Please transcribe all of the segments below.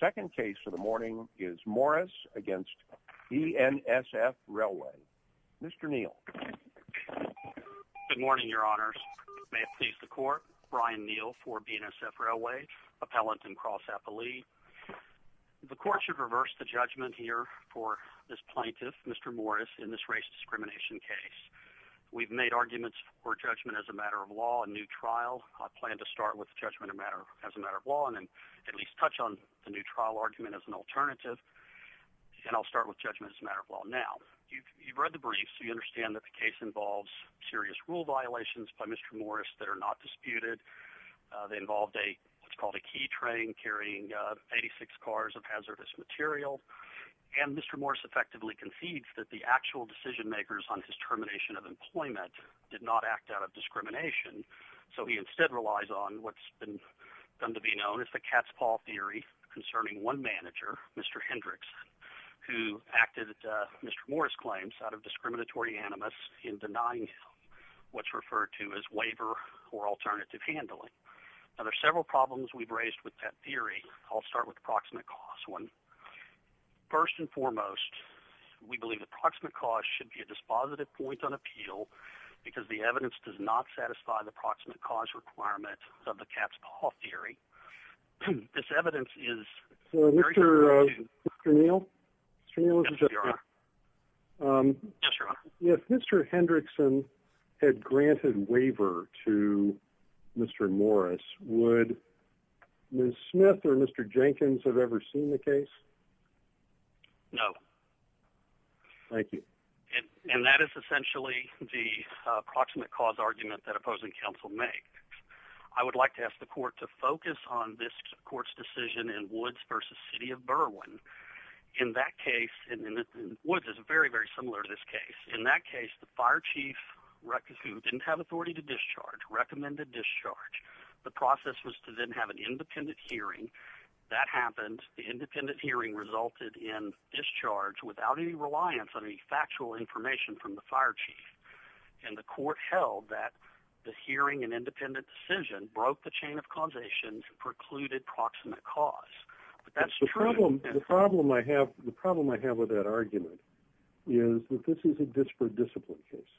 Second case for the morning is Morris against BNSF Railway. Mr. Neal. Good morning, your honors. May it please the court. Brian Neal for BNSF Railway, appellant and cross-appellee. The court should reverse the judgment here for this plaintiff, Mr. Morris, in this race discrimination case. We've made arguments for judgment as a matter of law and new trial. I plan to start with the judgment as a matter of law and then at least on the new trial argument as an alternative. And I'll start with judgment as a matter of law. Now, you've read the briefs. You understand that the case involves serious rule violations by Mr. Morris that are not disputed. They involved a what's called a key train carrying 86 cars of hazardous material. And Mr. Morris effectively concedes that the actual decision makers on his termination of employment did not act out of discrimination. So he instead relies on what's done to be known as the cat's paw theory concerning one manager, Mr. Hendricks, who acted Mr. Morris claims out of discriminatory animus in denying what's referred to as waiver or alternative handling. Now, there are several problems we've raised with that theory. I'll start with the proximate cause one. First and foremost, we believe the proximate cause should be a dispositive point on appeal because the evidence does not satisfy the proximate cause requirement of the cat's paw theory. This evidence is Mr. Neal. Mr. Hendrickson had granted waiver to Mr. Morris. Would Ms. Smith or Mr. Jenkins have ever seen the case? No. Thank you. And that is essentially the approximate cause argument that opposing counsel make. I would like to ask the court to focus on this court's decision in Woods versus City of Berwyn. In that case, Woods is very, very similar to this case. In that case, the fire chief didn't have authority to discharge, recommended discharge. The process was to then have an independent hearing. That happened. The independent hearing resulted in discharge without any reliance on any factual information from the fire chief. And the court held that the hearing and independent decision broke the chain of causation and precluded proximate cause. But that's true. The problem I have with that argument is that this is a disparate discipline case.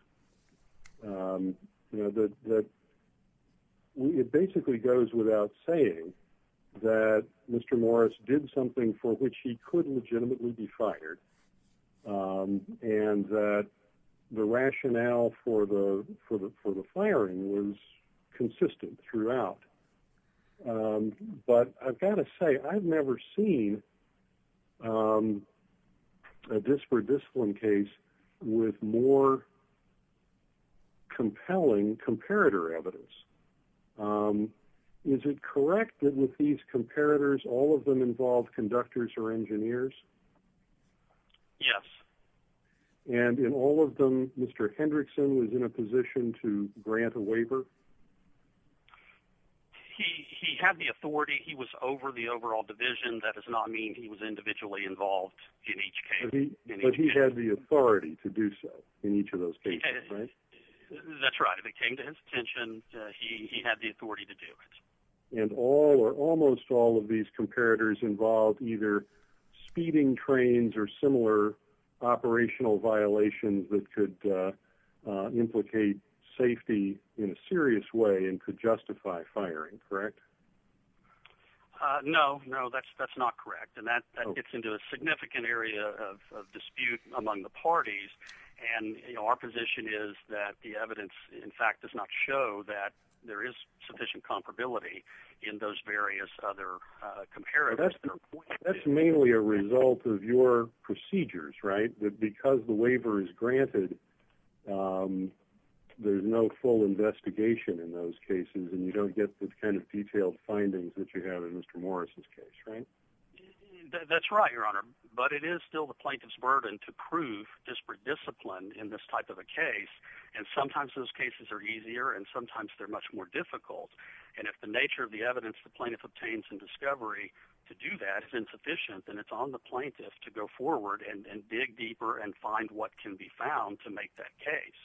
It basically goes without saying that Mr. Morris did something for which he could legitimately be and that the rationale for the firing was consistent throughout. But I've got to say, I've never seen a disparate discipline case with more compelling comparator evidence. Is it correct that with these comparators, all of them involve conductors or engineers? Yes. And in all of them, Mr. Hendrickson was in a position to grant a waiver? He had the authority. He was over the overall division. That does not mean he was individually involved in each case. But he had the authority to do so in each of those cases, right? That's right. If it came to his attention, he had the authority to do it. And all or almost all of these comparators involve either speeding trains or similar operational violations that could implicate safety in a serious way and could justify firing, correct? No, no, that's not correct. And that gets into a significant area of dispute among the parties. And our position is that the evidence, in fact, does not show that there is sufficient comparability in those various other comparators. That's mainly a result of your procedures, right? That because the waiver is granted, there's no full investigation in those cases, and you don't get the kind of detailed findings that you have in Mr. Morris's case, right? That's right, Your Honor. But it is still the plaintiff's burden to prove disparate discipline in this type of a case. And sometimes those cases are easier, and sometimes they're much more difficult. And if the nature of the evidence the plaintiff obtains in discovery to do that is insufficient, then it's on the plaintiff to go forward and dig deeper and find what can be found to make that case.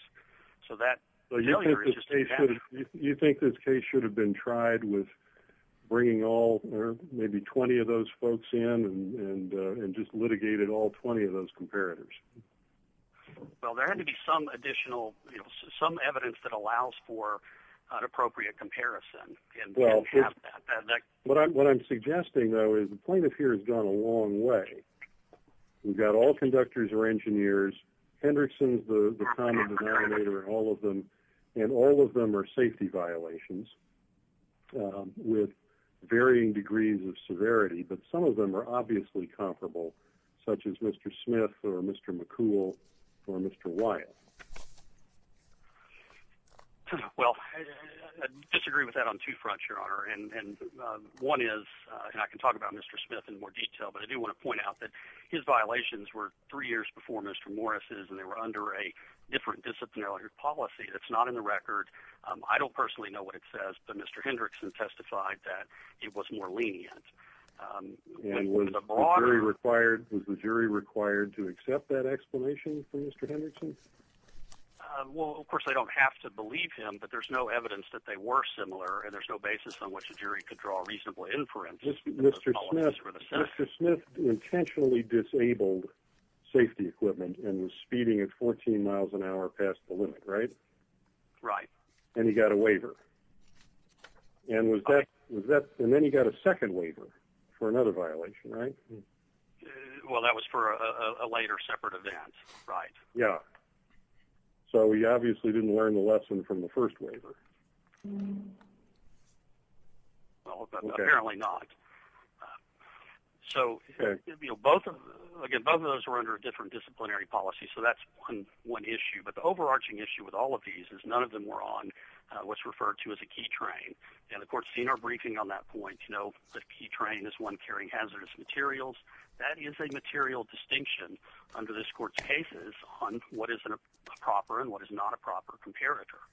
So that... You think this case should have been tried with bringing all or maybe 20 of those folks in and just litigated all 20 of those comparators? Well, there had to be some additional, you know, some evidence that allows for an appropriate comparison. And we don't have that. Well, what I'm suggesting, though, is the plaintiff here has gone a long way. We've got all conductors or engineers. Hendrickson is the common denominator in all of them. And all of them are safety violations with varying degrees of severity. But some of them are obviously comparable, such as Mr. Smith or Mr. McCool or Mr. Wyatt. Well, I disagree with that on two fronts, Your Honor. And one is, and I can talk about Mr. Smith in more detail, but I do want to point out that his violations were three years before Mr. Morris's, and they were under a different disciplinary policy that's not in the record. I don't personally know what it says, but Mr. Hendrickson testified that it was more lenient. And was the jury required to accept that explanation from Mr. Hendrickson? Well, of course, I don't have to believe him, but there's no evidence that they were similar, and there's no basis on which a jury could draw a reasonable inference. Mr. Smith intentionally disabled safety equipment and was speeding at 14 miles an hour past the limit, right? Right. And he got a waiver. And then he got a second waiver for another violation, right? Well, that was for a later separate event, right? Yeah. So he obviously didn't learn the lesson from the first waiver. Well, apparently not. So, both of those were under a different disciplinary policy, so that's one issue. But the overarching issue with all of these is none of them were on what's referred to as a key train. And the court's senior briefing on that point, you know, the key train is one carrying hazardous materials. That is a material distinction under this court's cases on what is a proper and what is not a proper comparator.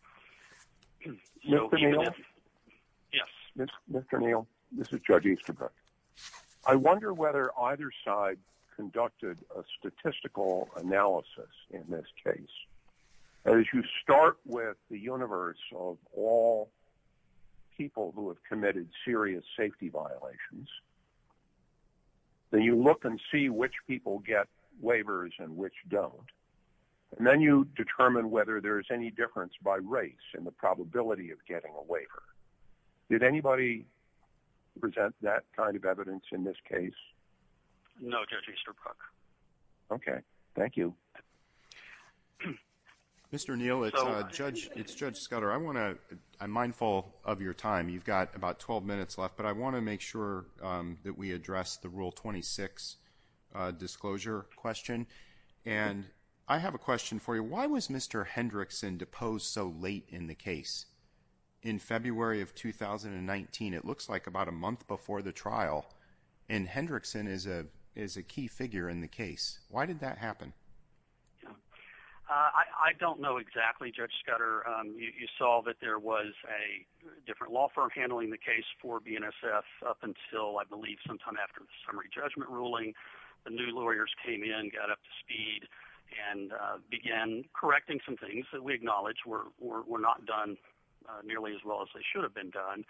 Yes. Mr. Neal, this is Judge Easterbrook. I wonder whether either side conducted a statistical analysis in this case. As you start with the universe of all people who have committed serious safety violations, then you look and see which people get waivers and which don't. And then you determine whether there's any difference by race in the probability of getting a waiver. Did anybody present that kind of evidence in this case? No, Judge Easterbrook. Okay. Thank you. Mr. Neal, it's Judge Scudder. I'm mindful of your time. You've got about 12 minutes left, but I want to make sure that we address the Rule 26 disclosure question. And I have a question for you. Why was Mr. Hendrickson deposed so late in the case? In February of 2019, it looks like about a month before the trial. And Hendrickson is a key figure in the case. Why did that happen? I don't know exactly, Judge Scudder. You saw that there was a different law firm handling the case for BNSF up until, I believe, sometime after the summary judgment ruling. The new lawyers came in, got up to speed, and began correcting some things that we acknowledge were not done nearly as well as they should have been done.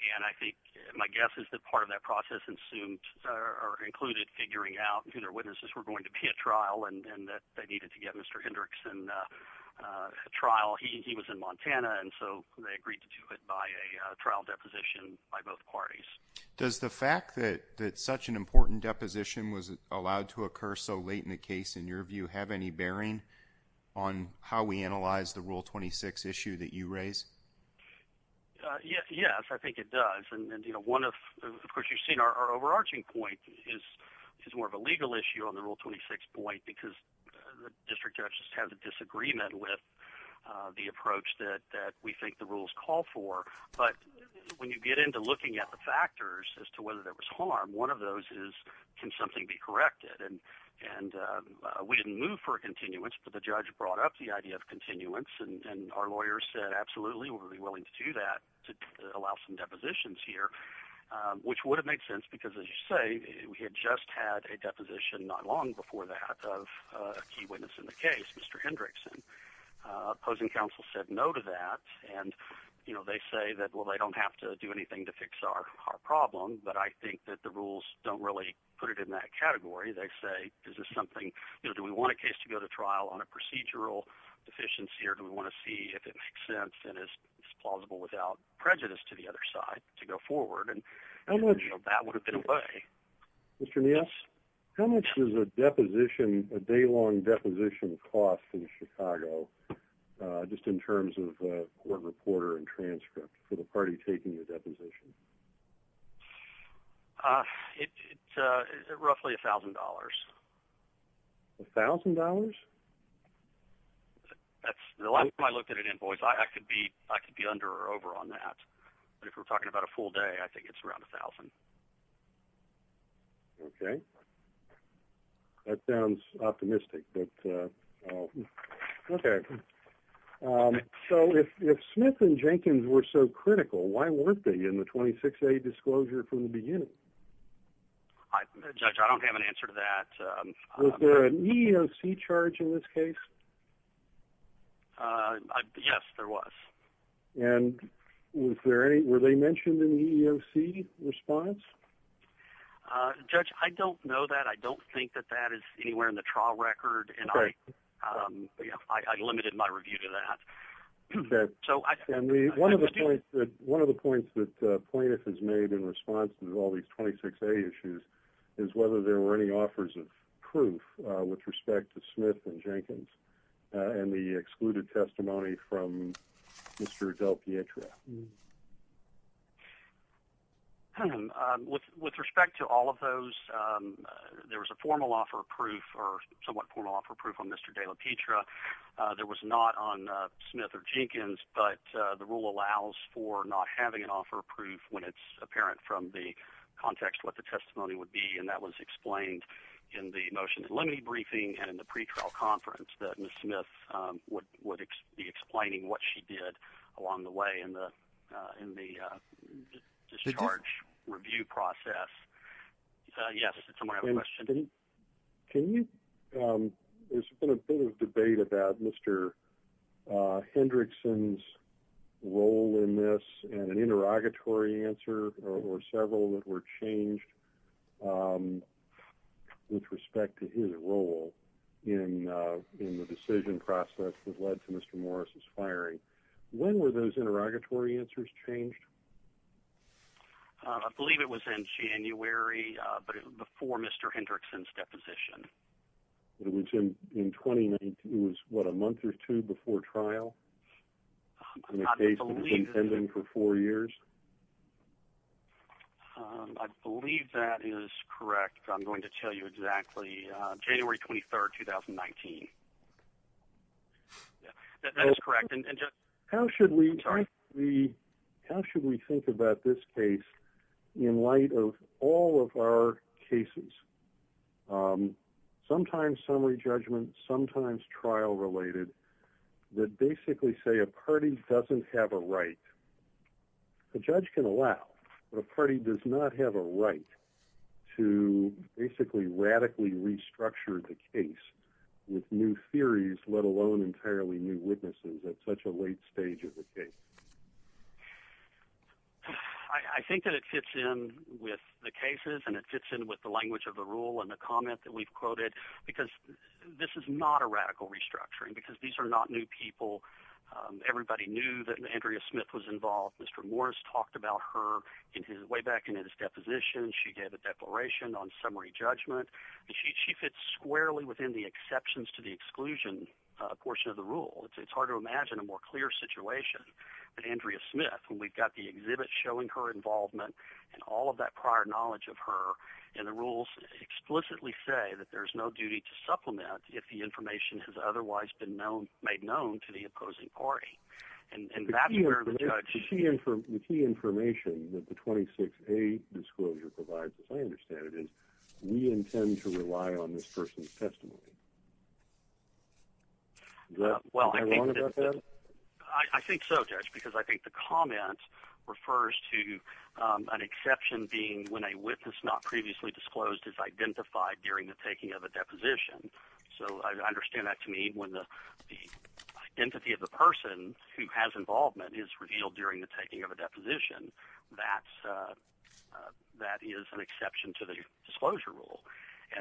And I think my guess is that part of that process included figuring out who their witnesses were going to be at trial and that they needed to get Mr. Hendrickson at trial. He was in Montana, and so they agreed to do it by a trial deposition by both parties. Does the fact that such an important deposition was allowed to occur so late in the case, in your view, have any bearing on how we analyze the Rule 26 issue that you raise? Yes, I think it does. Of course, you've seen our overarching point is more of a legal issue on the Rule 26 point because the district judges have a disagreement with the approach that we think the rules call for. But when you get into looking at the factors as to whether there was harm, one of those is, can something be corrected? And we didn't move for continuance, but the judge brought up the idea of continuance, and our lawyers said, absolutely, we're willing to do that to allow some depositions here, which would have made sense because, as you say, we had just had a deposition not long before that of a key witness in the case, Mr. Hendrickson. Opposing counsel said no to that, and, you know, they say that, well, they don't have to do anything to fix our problem, but I think that the rules don't really put it in that category. They say, is this something, you know, do we want a case to go to trial on a procedural deficiency, or do we want to see if it makes sense and is plausible without prejudice to the other side to go forward? And, you know, that would have been a way. Mr. Niels, how much does a deposition, a day-long deposition cost in Chicago, just in terms of court reporter and transcript for the $1,000? That's, the last time I looked at an invoice, I could be under or over on that, but if we're talking about a full day, I think it's around $1,000. Okay. That sounds optimistic, but, okay. So, if Smith and Jenkins were so critical, why weren't they in the 26A disclosure from the beginning? I, Judge, I don't have an answer to that. Was there an EEOC charge in this case? Yes, there was. And were they mentioned in the EEOC response? Judge, I don't know that. I don't think that that is anywhere in the trial record, and I limited my review to that. Okay. And one of the points that Plaintiff has made in response to all these 26A issues is whether there were any offers of proof with respect to Smith and Jenkins and the excluded testimony from Mr. Dell Pietra. With respect to all of those, there was a formal offer of proof or somewhat formal offer of proof on Mr. Dell Pietra. There was not on Smith or Jenkins, but the rule allows for not having an offer of proof when it's apparent from the context what the testimony would be, and that was explained in the motion in limited briefing and in the pretrial conference that Ms. Smith would be explaining what she did along the way in the discharge review process. Yes, someone had a question. There's been a bit of debate about Mr. Hendrickson's role in this and an interrogatory answer or several that were changed with respect to his role in the decision process that led to Mr. Morris' firing. When were those interrogatory answers changed? I believe it was in January, but it was before Mr. Hendrickson's deposition. It was in 2019. It was, what, a month or two before trial in a case that was intending for four years? I believe that is correct. I'm going to tell you exactly. January 23rd, 2019. That is correct. How should we think about this case in light of all of our cases, sometimes summary judgment, sometimes trial-related, that basically say a party doesn't have a right, the judge can allow, but a party does not have a right to basically radically restructure the case with new theories, let alone entirely new witnesses at such a late stage of the case? I think that it fits in with the cases and it fits in with the language of the rule and the comment that we've quoted, because this is not a radical restructuring, because these are not new people. Everybody knew that Andrea Smith was involved. Mr. Morris talked about her way back in his deposition. She gave a declaration on summary judgment. She fits squarely within the exceptions to the exclusion portion of the rule. It's hard to imagine a more clear situation than Andrea Smith. We've got the exhibit showing her involvement and all of that prior knowledge of her, and the rules explicitly say that there's no duty to supplement if the information has otherwise been made known to the opposing party. The key information that the 26A disclosure provides, as I understand it, is we intend to rely on this person's testimony. Am I wrong about that? I think so, Judge, because I think the comment refers to an exception being when a witness not previously disclosed is identified during the taking of a deposition. So I understand that to mean when the identity of the person who has involvement is revealed during the taking of a deposition, that is an exception to the disclosure rule.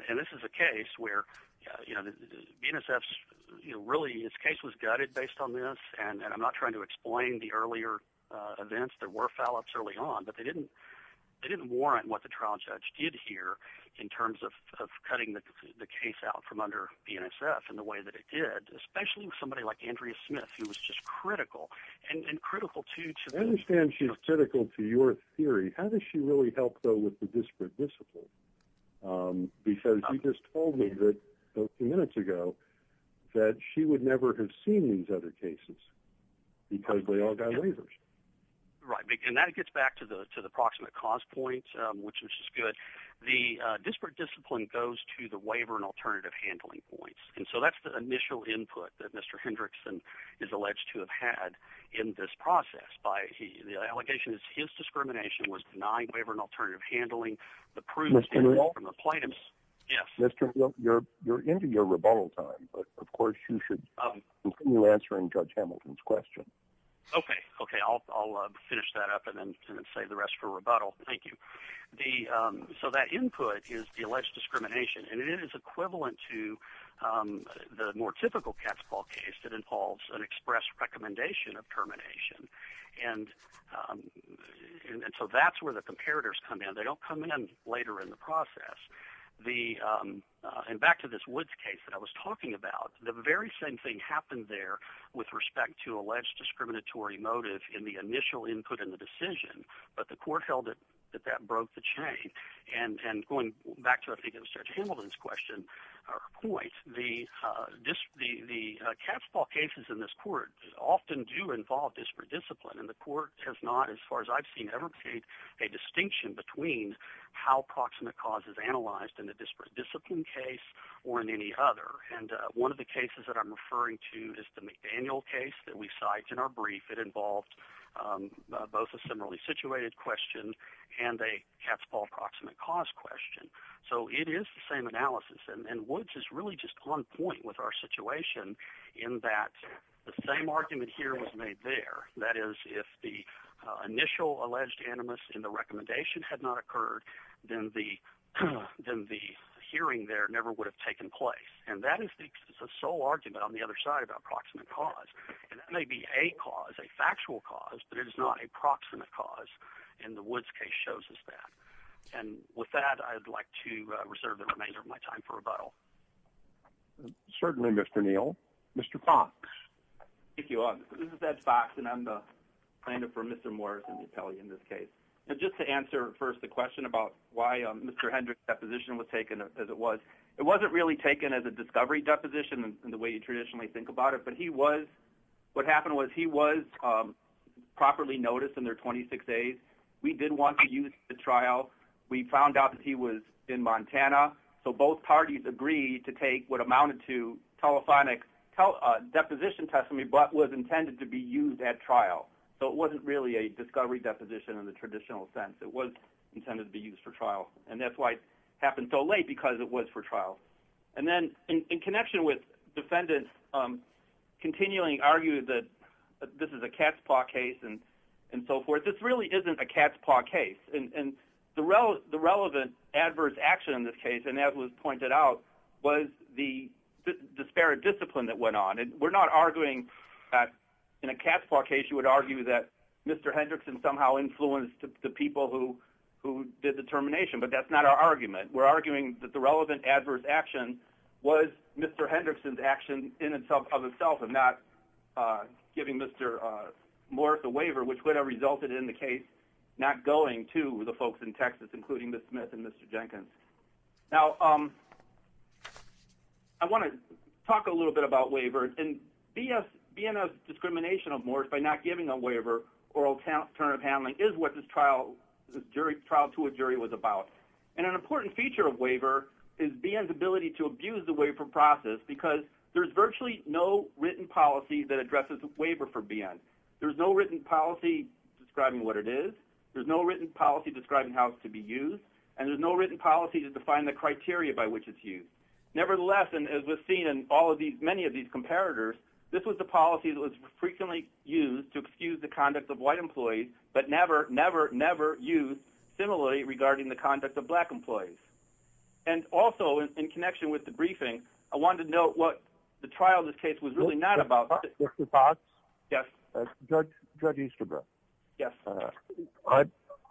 And this is a case where, you know, BNSF's, you know, really, this case was gutted based on this, and I'm not trying to explain the earlier events. There were foul-ups early on, but they didn't warrant what the trial judge did here in terms of cutting the case out from under BNSF in the way that it did, especially with somebody like Andrea Smith, who was just critical, and critical, too, to- I understand she's critical to your theory. How does she really help, though, with the minutes ago that she would never have seen these other cases because they all got waivers? Right. And that gets back to the proximate cause point, which is good. The disparate discipline goes to the waiver and alternative handling points. And so that's the initial input that Mr. Hendrickson is alleged to have had in this process. The allegation is his discrimination was denying waiver and alternative handling, the proof- Mr. Henry? From the plaintiffs. Yes. You're into your rebuttal time, but of course you should continue answering Judge Hamilton's question. Okay. Okay. I'll finish that up and then save the rest for rebuttal. Thank you. So that input is the alleged discrimination, and it is equivalent to the more typical cat's paw case that involves an express recommendation of termination. And so that's where the comparators come in. They don't come in later in the process. And back to this Woods case that I was talking about, the very same thing happened there with respect to alleged discriminatory motive in the initial input in the decision, but the court held that that broke the chain. And going back to, I think, Judge Hamilton's question or point, the cat's paw cases in this court often do involve disparate discipline, and the court has not, as far as I've seen, ever made a distinction between how proximate cause is analyzed in the disparate discipline case or in any other. And one of the cases that I'm referring to is the McDaniel case that we cite in our brief. It involved both a similarly situated question and a cat's paw approximate cause question. So it is the same analysis, and Woods is really just on point with our situation in that the same argument here was made there. That is, if the initial alleged animus in the recommendation had not occurred, then the hearing there never would have taken place. And that is the sole argument on the other side about proximate cause. And that may be a cause, a factual cause, but it is not a proximate cause, and the Woods case shows us that. And with that, I'd like to reserve the remainder of my time for rebuttal. Certainly, Mr. Neal. Mr. Fox. Thank you. This is Ed Fox, and I'm the plaintiff for Mr. Morris and the appellee in this case. Just to answer first the question about why Mr. Hendricks' deposition was taken as it was, it wasn't really taken as a discovery deposition in the way you traditionally think about it, but what happened was he was properly noticed in their 26 days. We did want to use the trial. We found out that he was in Montana, so both parties agreed to take what amounted to telephonic deposition testimony, but was intended to be used at trial. So it wasn't really a discovery deposition in the traditional sense. It was intended to be used for trial, and that's why it happened so late, because it was for trial. And then in connection with defendants continually arguing that this is a cat's paw case and so forth, this really isn't a cat's paw case. And the relevant adverse action in this case, and as was pointed out, was the disparate discipline that went on. And we're not arguing that in a cat's paw case, Mr. Hendrickson somehow influenced the people who did the termination, but that's not our argument. We're arguing that the relevant adverse action was Mr. Hendrickson's action in and of itself, and not giving Mr. Morris a waiver, which would have resulted in the case not going to the folks in Texas, including Ms. Smith and Mr. Jenkins. Now, I want to talk a little bit about waivers, and be in a discrimination of Morris by not giving a waiver or alternative handling is what this trial to a jury was about. And an important feature of waiver is BN's ability to abuse the waiver process, because there's virtually no written policy that addresses waiver for BN. There's no written policy describing what it is, there's no written policy describing how it's to be used, and there's no written policy to define the criteria by which it's used. Nevertheless, and as we've seen in many of these comparators, this was the conduct of white employees, but never, never, never used similarly regarding the conduct of black employees. And also in connection with the briefing, I wanted to note what the trial of this case was really not about. Mr. Potts? Yes. Judge Easterbrook? Yes.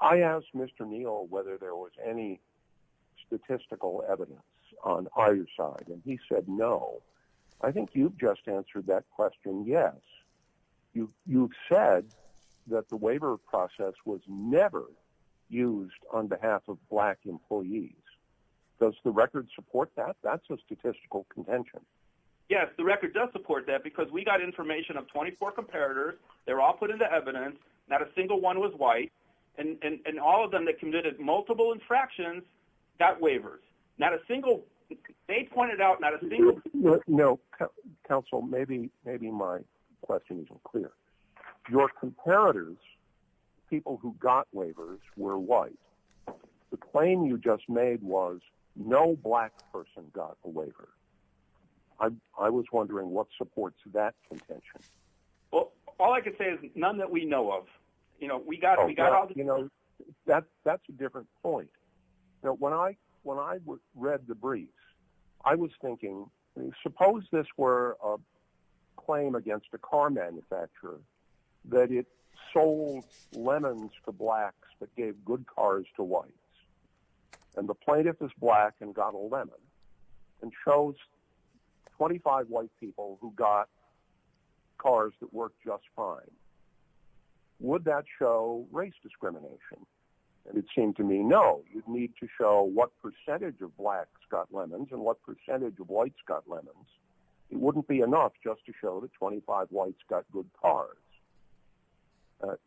I asked Mr. Neal whether there was any statistical evidence on either side, and he said no. I think you've just answered that yes. You've said that the waiver process was never used on behalf of black employees. Does the record support that? That's a statistical contention. Yes, the record does support that, because we got information of 24 comparators, they were all put into evidence, not a single one was white, and all of them that committed multiple infractions got waivers. Not a single, they pointed out not a single... No, counsel, maybe my question isn't clear. Your comparators, people who got waivers, were white. The claim you just made was no black person got a waiver. I was wondering what supports that contention. Well, all I can say is none that we know of. We got all the... That's a different point. When I read the briefs, I was thinking, suppose this were a claim against a car manufacturer that it sold lemons to blacks but gave good cars to whites, and the plaintiff is black and got a lemon, and chose 25 white people who got cars that worked just fine. Would that show race discrimination? It seemed to me, no. You'd need to show what percentage of blacks got lemons and what percentage of whites got lemons. It wouldn't be enough just to show that 25 whites got good cars.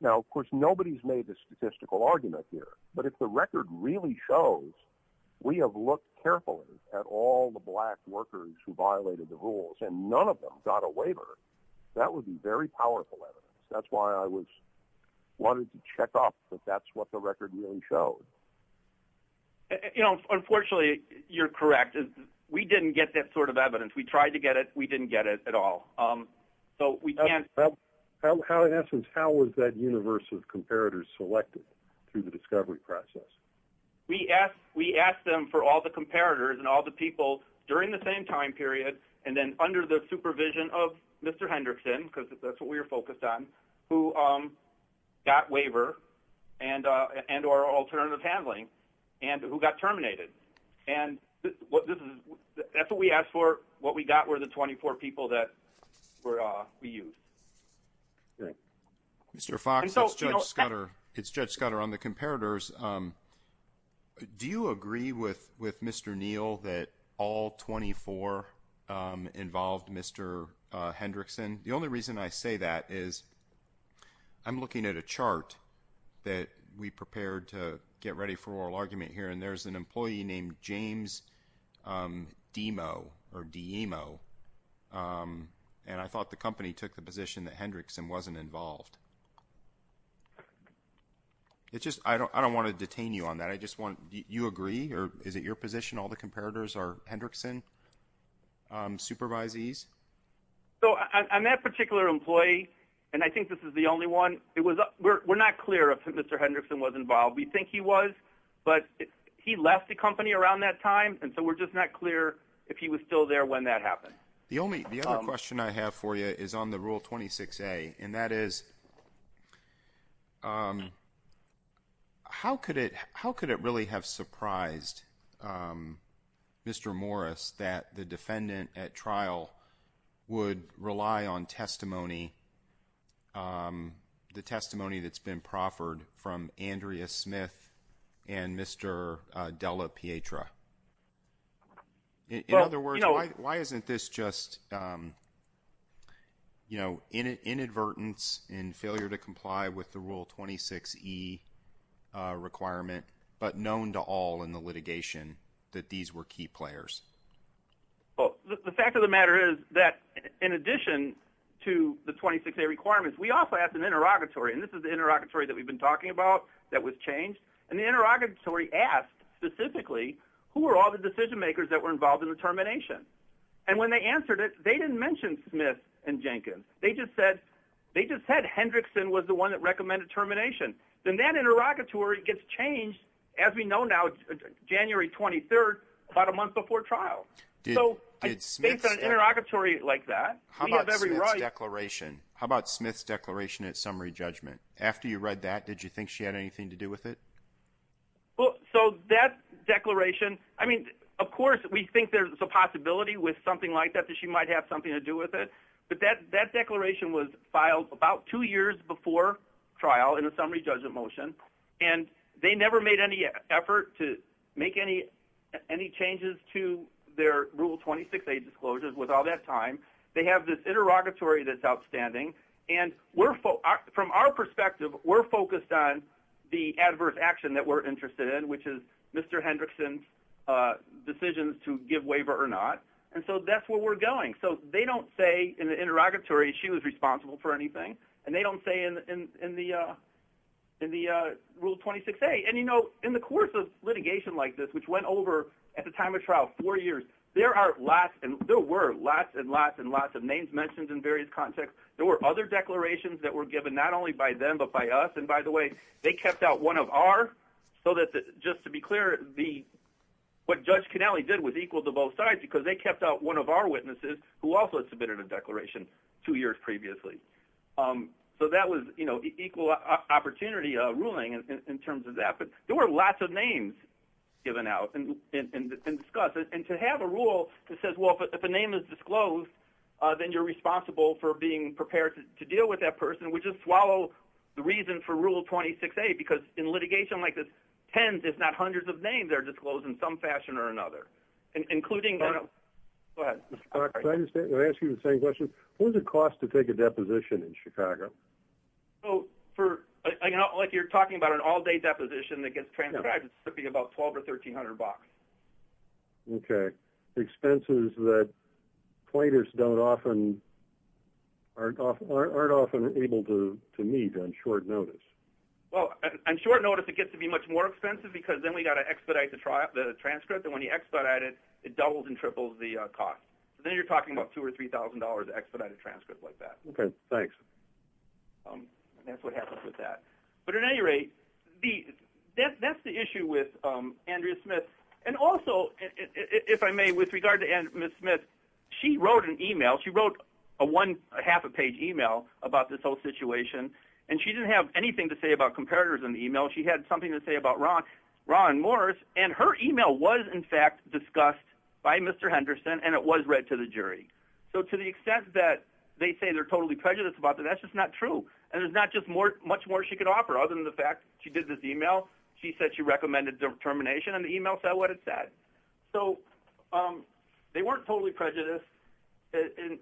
Now, of course, nobody's made a statistical argument here, but if the record really shows, we have looked carefully at all the black workers who violated the rules and none of them got a waiver, that would be very powerful evidence. That's why I wanted to check off that that's what the record really showed. Unfortunately, you're correct. We didn't get that sort of evidence. We tried to get it. We didn't get it at all. So we can't... In essence, how was that done? We asked them for all the comparators and all the people during the same time period, and then under the supervision of Mr. Hendrickson, because that's what we were focused on, who got waiver and or alternative handling, and who got terminated. That's what we asked for. What we got were the 24 people that we used. Mr. Fox, it's Judge Scudder on the comparators. Do you agree with Mr. Neal that all 24 involved Mr. Hendrickson? The only reason I say that is I'm looking at a chart that we prepared to get ready for oral argument here, and there's an employee named James Deemo, and I thought the company took the position that Hendrickson wasn't involved. I don't want to detain you on that. Do you agree, or is it your position all the comparators are Hendrickson supervisees? I'm that particular employee, and I think this is the only one. We're not clear if Mr. Hendrickson was involved. We think he was, but he left the company around that time, and so we're just not clear if he was still there when that happened. The other question I have for you is on the rule 26A, and that is how could it really have surprised Mr. Morris that the defendant at trial would rely on testimony, the testimony that's been proffered from Andrea Smith and Mr. Della Pietra? In other words, why isn't this just inadvertence and failure to comply with the rule 26E requirement, but known to all in the litigation that these were key players? The fact of the matter is that in addition to the 26A requirements, we also asked an interrogatory, and this is the interrogatory that we've been talking about that was changed, and the interrogatory asked specifically who were all the decision makers that were involved in the termination, and when they answered it, they didn't mention Smith and Jenkins. They just said Hendrickson was the one that recommended termination. Then that interrogatory gets changed, as we know now, January 23rd, about a month before trial. So based on an interrogatory like that, we have every right- How about Smith's declaration at summary judgment? After you read that, did you think she had anything to do with it? Well, so that declaration, I mean, of course, we think there's a possibility with something like that that she might have something to do with it, but that declaration was filed about two years before trial in a summary judgment motion, and they never made any effort to make any changes to their rule 26A disclosures with all that time. They have this interrogatory that's outstanding, and from our perspective, we're focused on the adverse action that we're interested in, which is Mr. Hendrickson's decisions to give waiver or not, and so that's where we're going. So they don't say in the interrogatory she was responsible for anything, and they don't say in the rule 26A. And in the course of litigation like this, which went over at the time of trial four years, there were lots and lots and lots of names mentioned in various contexts. There were other declarations that were given not only by them but by us, and by the way, they kept out one of our, so that just to be clear, what Judge Cannelli did was equal to both sides because they kept out one of our witnesses who also submitted a declaration two years previously. So that was equal opportunity ruling in terms of that, but there were lots of names given out and discussed, and to have a rule that says, well, if a name is disclosed, then you're responsible for being prepared to deal with that person. We just swallow the reason for rule 26A because in litigation like this, tens if not hundreds of names are disclosed in some fashion or another, including... Go ahead, Mr. Clark. Can I ask you the same question? What does it cost to take a deposition in Chicago? So for, like you're talking about an all-day deposition that gets transcribed, it's going to be about $1,200 or $1,300 bucks. Okay. Expenses that plaintiffs don't often, aren't often able to meet on short notice. Well, on short notice, it gets to be much more expensive because then we got to expedite the transcript, and when you expedite it, it doubles and triples the cost. So then you're talking about $2,000 or $3,000 to expedite a transcript like that. Okay. Thanks. That's what happens with that. But at any rate, that's the issue with Andrea Smith, and also, if I may, with regard to Ms. Smith, she wrote an email. She wrote a half a page email about this whole situation, and she didn't have anything to say about comparators in the email. She had something to say about Ron Morris, and her email was in fact discussed by Mr. Henderson, and it was read to the jury. So to the extent that they say they're totally prejudiced about that, that's just not true, and there's not just much more she could offer other than the fact she did this email. She said she recommended determination, and the email said what it said. So they weren't totally prejudiced, and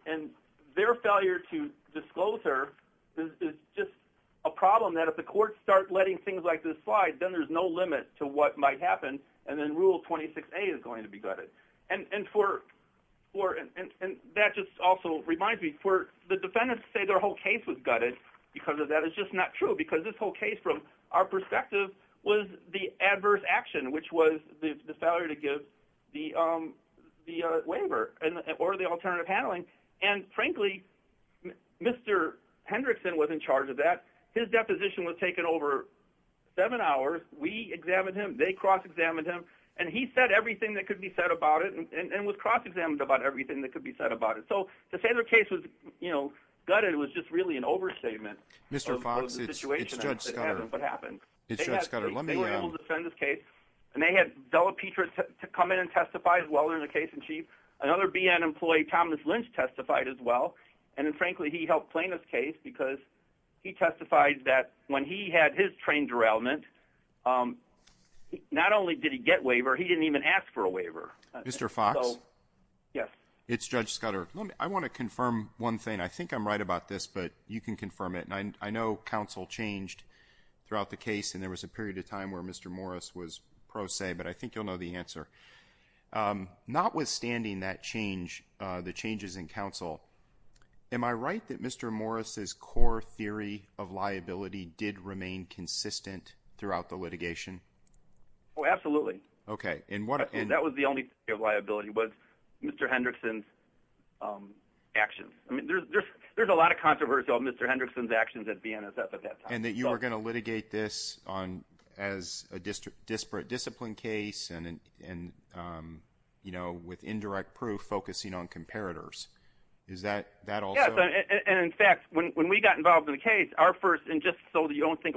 their failure to disclose her is just a problem that if the courts start letting things like this slide, then there's no limit to what might happen, and then Rule 26A is going to be gutted. And that just also reminds me, the defendants say their whole case was gutted because of that. It's just not true because this whole case, from our perspective, was the adverse action, which was the failure to give the waiver or the alternative handling, and frankly, Mr. Henderson was in charge of that. His deposition was taken over seven hours. We examined him. They cross-examined him, and he said everything that could be said about it and was cross-examined about everything that could be said about it. To say their case was gutted was just really an overstatement. Mr. Fox, it's Judge Scudder. It's Judge Scudder. They were able to defend this case, and they had Della Petra come in and testify as well in the case in chief. Another BN employee, Thomas Lynch, testified as well, and frankly, he helped claim this case because he testified that when he had his trained derailment, not only did he get a waiver, he didn't even ask for a waiver. Mr. Fox? Yes. It's Judge Scudder. I want to confirm one thing. I think I'm right about this, but you can confirm it. I know counsel changed throughout the case, and there was a period of time where Mr. Morris was pro se, but I think you'll know the answer. Notwithstanding that change, the changes in counsel, am I right that Mr. Morris's core theory of liability did remain consistent throughout the litigation? Oh, absolutely. And that was the only theory of liability was Mr. Hendrickson's actions. There's a lot of controversy on Mr. Hendrickson's actions at BNSF at that time. And that you were going to litigate this as a disparate discipline case and with indirect proof focusing on comparators. Is that also- Yes. And in fact, when we got involved in the case, our first, and just so you don't think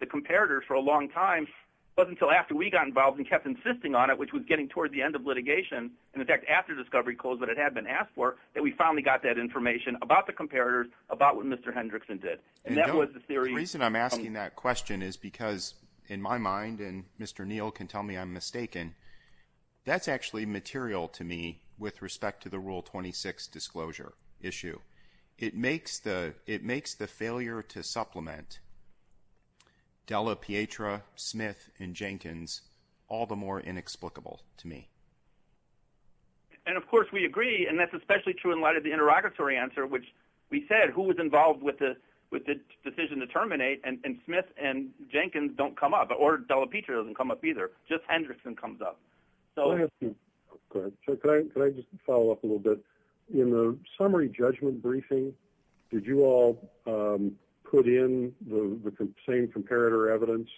the comparator for a long time, it wasn't until after we got involved and kept insisting on it, which was getting toward the end of litigation, and in fact, after discovery closed, but it had been asked for, that we finally got that information about the comparator, about what Mr. Hendrickson did. And that was the theory- The reason I'm asking that question is because in my mind, and Mr. Neal can tell me I'm mistaken, that's actually material to me with respect to the Rule 26 disclosure issue. It makes the failure to supplement Della Pietra, Smith, and Jenkins all the more inexplicable to me. And of course we agree, and that's especially true in light of the interrogatory answer, which we said who was involved with the decision to terminate, and Smith and Jenkins don't come up, or Della Pietra doesn't come up either, just Hendrickson comes up. Go ahead. Can I just follow up a little bit? In the summary judgment briefing, did you all put in the same comparator evidence?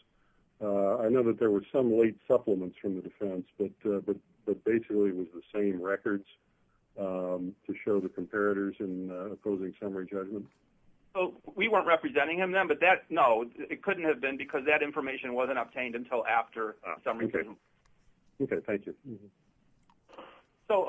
I know that there were some late supplements from the defense, but basically it was the same records to show the comparators in the closing summary judgment. We weren't representing him then, but no, it couldn't have been because that information wasn't obtained until after summary judgment. Okay, thank you. So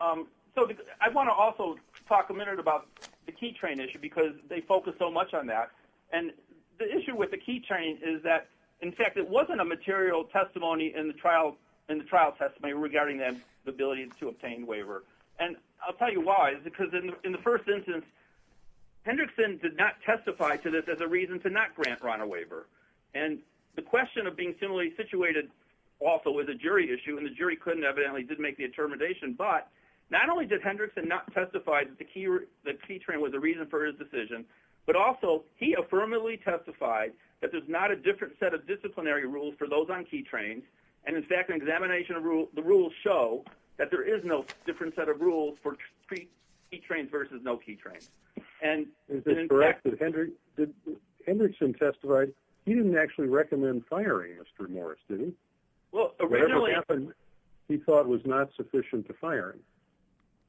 I want to also talk a minute about the key train issue, because they focus so much on that, and the issue with the key train is that, in fact, it wasn't a material testimony in the trial testimony regarding the ability to obtain waiver. And I'll tell you why, because in the first instance, Hendrickson did not testify to this as a reason to not grant Ron a waiver, and the jury couldn't evidently, did make the determination, but not only did Hendrickson not testify that the key train was a reason for his decision, but also he affirmatively testified that there's not a different set of disciplinary rules for those on key trains, and in fact, an examination of the rules show that there is no different set of rules for key trains versus no key trains. Is this correct that Hendrickson testified, he didn't actually recommend firing Mr. Morris, did he? He thought was not sufficient to fire him.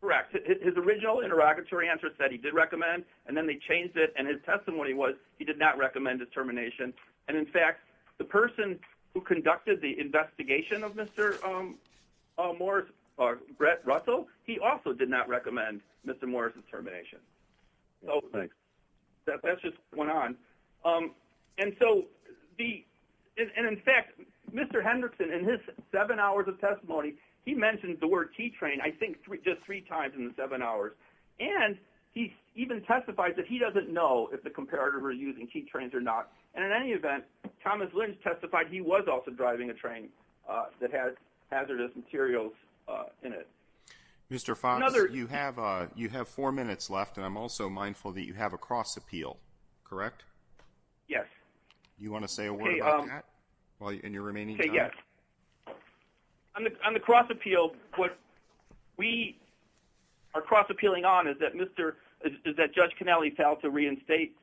Correct. His original interrogatory answer said he did recommend, and then they changed it, and his testimony was he did not recommend his termination, and in fact, the person who conducted the investigation of Mr. Morris, Brett Russell, he also did not recommend Mr. Morris's termination. So that's just going on. And so the, and in fact, Mr. Hendrickson in his seven hours of testimony, he mentioned the word key train, I think just three times in the seven hours, and he even testified that he doesn't know if the comparator was using key trains or not, and in any event, Thomas Lynch testified he was also driving a train that had hazardous materials in it. Mr. Fox, you have four minutes left, and I'm also mindful that you have a cross appeal, correct? Yes. Do you want to say a word about that in your remaining time? Okay, yes. On the cross appeal, what we are cross appealing on is that Mr., is that Judge Cannelli failed to reinstate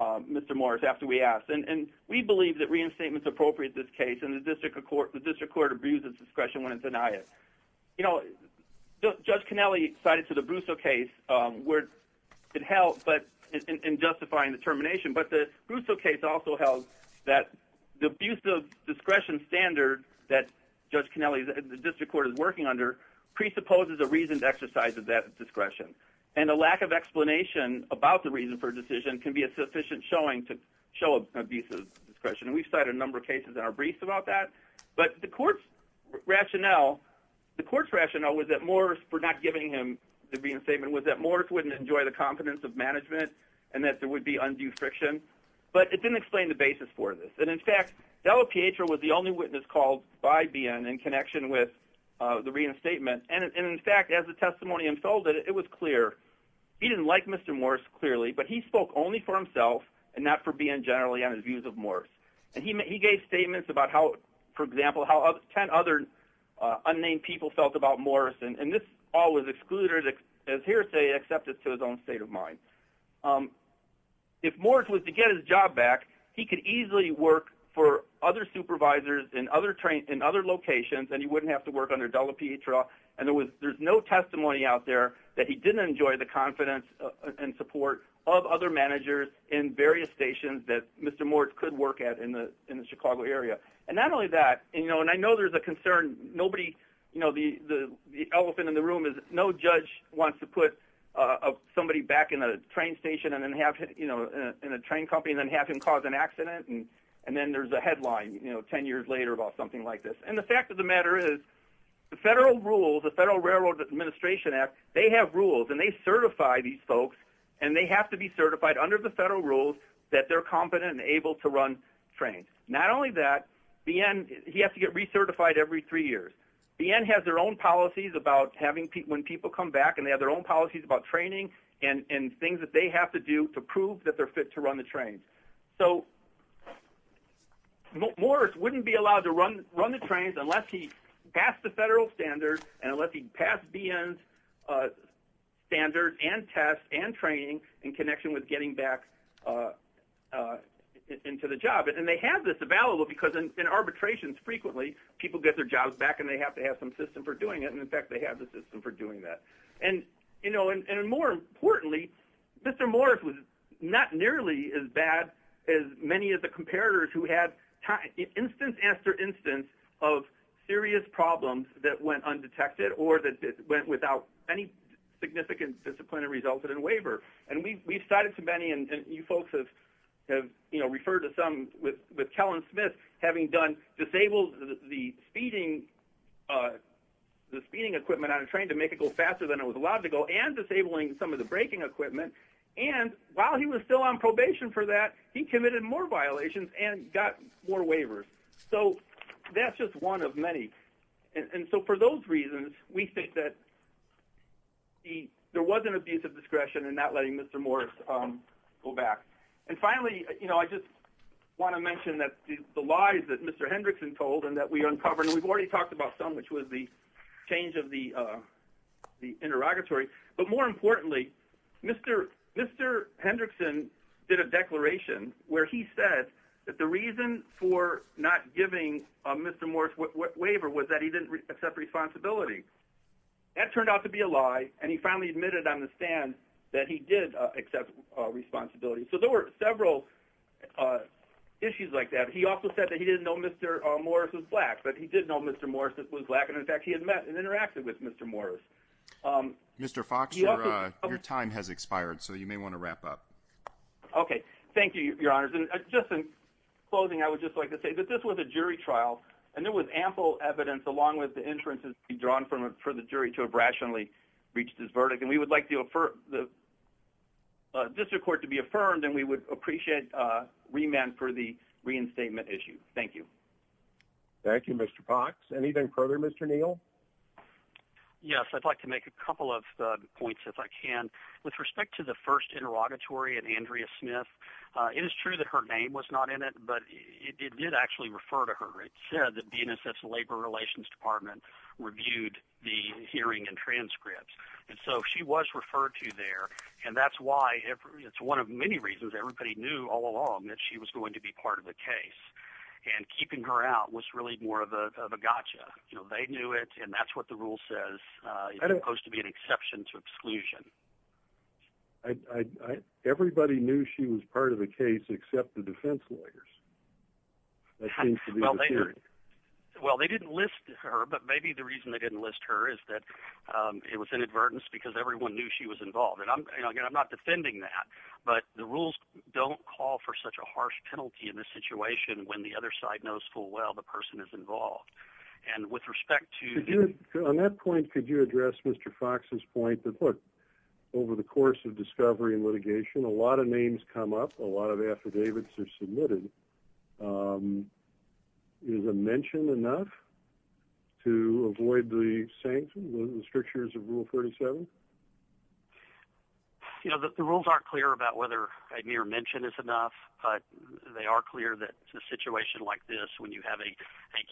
Mr. Morris after we asked, and we believe that reinstatement's appropriate in this case, and the District Court abuses discretion when it denies it. You know, Judge Cannelli cited to the Brusso case where it held, but in justifying the termination, but the Brusso case also held that the abuse of discretion standard that Judge Cannelli, the District Court is working under presupposes a reasoned exercise of that discretion, and a lack of explanation about the reason for a decision can be a sufficient showing to show abuse of discretion, and we've cited a number of cases in our briefs about that, but the court's rationale, the court's rationale was that Morris for not giving him the reinstatement was that Morris wouldn't enjoy the competence of management, and that there would be undue friction, but it didn't explain the basis for this, and in fact, Dello Pietro was the only witness called by BN in connection with the reinstatement, and in fact, as the testimony unfolded, it was clear, he didn't like Mr. Morris clearly, but he spoke only for himself, and not for BN generally on his example, how 10 other unnamed people felt about Morris, and this all was excluded as hearsay, except it's to his own state of mind. If Morris was to get his job back, he could easily work for other supervisors in other locations, and he wouldn't have to work under Dello Pietro, and there was, there's no testimony out there that he didn't enjoy the confidence and support of other managers in various stations that Mr. Morris could work at in the Chicago area, and not only that, you know, and I know there's a concern, nobody, you know, the elephant in the room is no judge wants to put somebody back in a train station, and then have, you know, in a train company, and then have him cause an accident, and then there's a headline, you know, 10 years later about something like this, and the fact of the matter is the federal rules, the Federal Railroad Administration Act, they have rules, and they certify these folks, and they have to be certified under the federal rules that they're competent and able to run trains. Not only that, BN, he has to get recertified every three years. BN has their own policies about having people, when people come back, and they have their own policies about training, and things that they have to do to prove that they're fit to run the trains. So Morris wouldn't be allowed to run the trains unless he passed the federal standards, and unless he passed BN's standards, and tests, and training, in connection with getting back into the job, and they have this available, because in arbitrations, frequently, people get their jobs back, and they have to have some system for doing it, and in fact, they have the system for doing that, and, you know, and more importantly, Mr. Morris was not nearly as bad as many of the comparators who had time, instance after instance of serious problems that went undetected, or that went without any significant discipline, and resulted in waiver, and we've cited too many, and you folks have, you know, referred to some with Kellen Smith having done, disabled the speeding, the speeding equipment on a train to make it go faster than it was allowed to go, and disabling some of the braking equipment, and while he was still on probation for that, he committed more violations, and got more waivers. So that's just one of many, and so for those reasons, we think that there was an abuse of discretion in not letting Mr. Morris go back, and finally, you know, I just want to mention that the lies that Mr. Hendrickson told, and that we uncovered, and we've already talked about some, which was the change of the interrogatory, but more importantly, Mr. Hendrickson did a declaration where he said that the reason for not giving Mr. Morris waiver was that he didn't accept responsibility. That turned out to be a lie, and he finally admitted on the stand that he did accept responsibility. So there were several issues like that. He also said that he didn't know Mr. Morris was black, but he did know Mr. Morris was black, and in fact, he had met and interacted with Mr. Morris. Mr. Fox, your time has expired, so you may want to wrap up. Okay, thank you, Your Honors, and just in closing, I would just like to say that this was a jury trial, and there was ample evidence along with the inferences to be drawn for the jury to have rationally reached this verdict, and we would like the district court to be affirmed, and we would appreciate remand for the reinstatement issue. Thank you. Thank you, Mr. Fox. Anything further, Mr. Neal? Yes, I'd like to make a couple of points, if I can. With respect to the first interrogatory and Andrea Smith, it is true that her name was not in it, but it did actually refer to her. It said that DNSF's Labor Relations Department reviewed the hearing and transcripts, and so she was referred to there, and that's why it's one of many reasons everybody knew all along that she was going to be part of the case, and keeping her out was really more of a gotcha. They knew it, and that's what the rule says. It's supposed to be an exception to exclusion. Everybody knew she was part of the case, except the defense lawyers. Well, they didn't list her, but maybe the reason they didn't list her is that it was inadvertence because everyone knew she was involved, and I'm not defending that, but the rules don't call for such a harsh penalty in this situation when the other side knows full well the person is involved, and with respect to... On that point, could you address Mr. Fox's point over the course of discovery and litigation? A lot of names come up. A lot of affidavits are submitted. Is a mention enough to avoid the sanctions, the strictures of Rule 37? The rules aren't clear about whether a mere mention is enough, but they are clear that in a situation like this, when you have a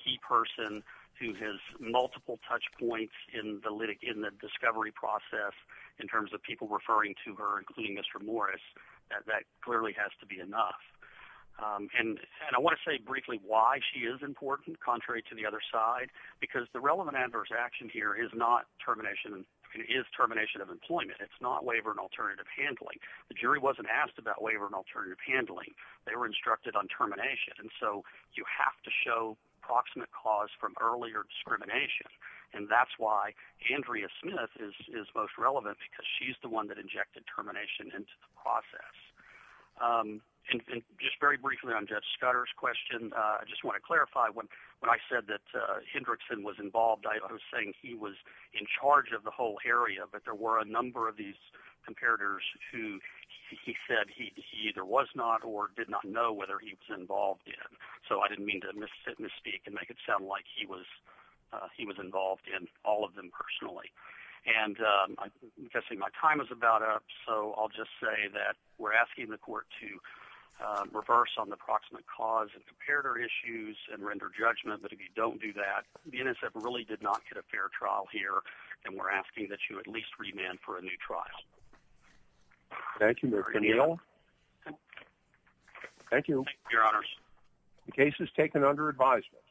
key person who has multiple touch points in the discovery process in terms of people referring to her, including Mr. Morris, that clearly has to be enough, and I want to say briefly why she is important, contrary to the other side, because the relevant adverse action here is termination of employment. It's not waiver and alternative handling. The jury wasn't asked about waiver and alternative handling. They were instructed on termination, and so you have to show proximate cause from earlier discrimination, and that's why Andrea Smith is most relevant, because she's the one that injected termination into the process. Just very briefly on Judge Scudder's question, I just want to clarify, when I said that Hendrickson was involved, I was saying he was in charge of the whole area, but there were a number of these comparators who he said he either was not or did not know whether he was involved in, so I didn't mean to misspeak and make it sound like he was involved in all of them personally, and I'm guessing my time is about up, so I'll just say that we're asking the court to reverse on the proximate cause and comparator issues and render judgment, but if you don't do that, the NSF really did not get a fair trial here, and we're asking that you at least remand for a new trial. Thank you, Mr. Neal. Thank you, your honors. The case is taken under advisement.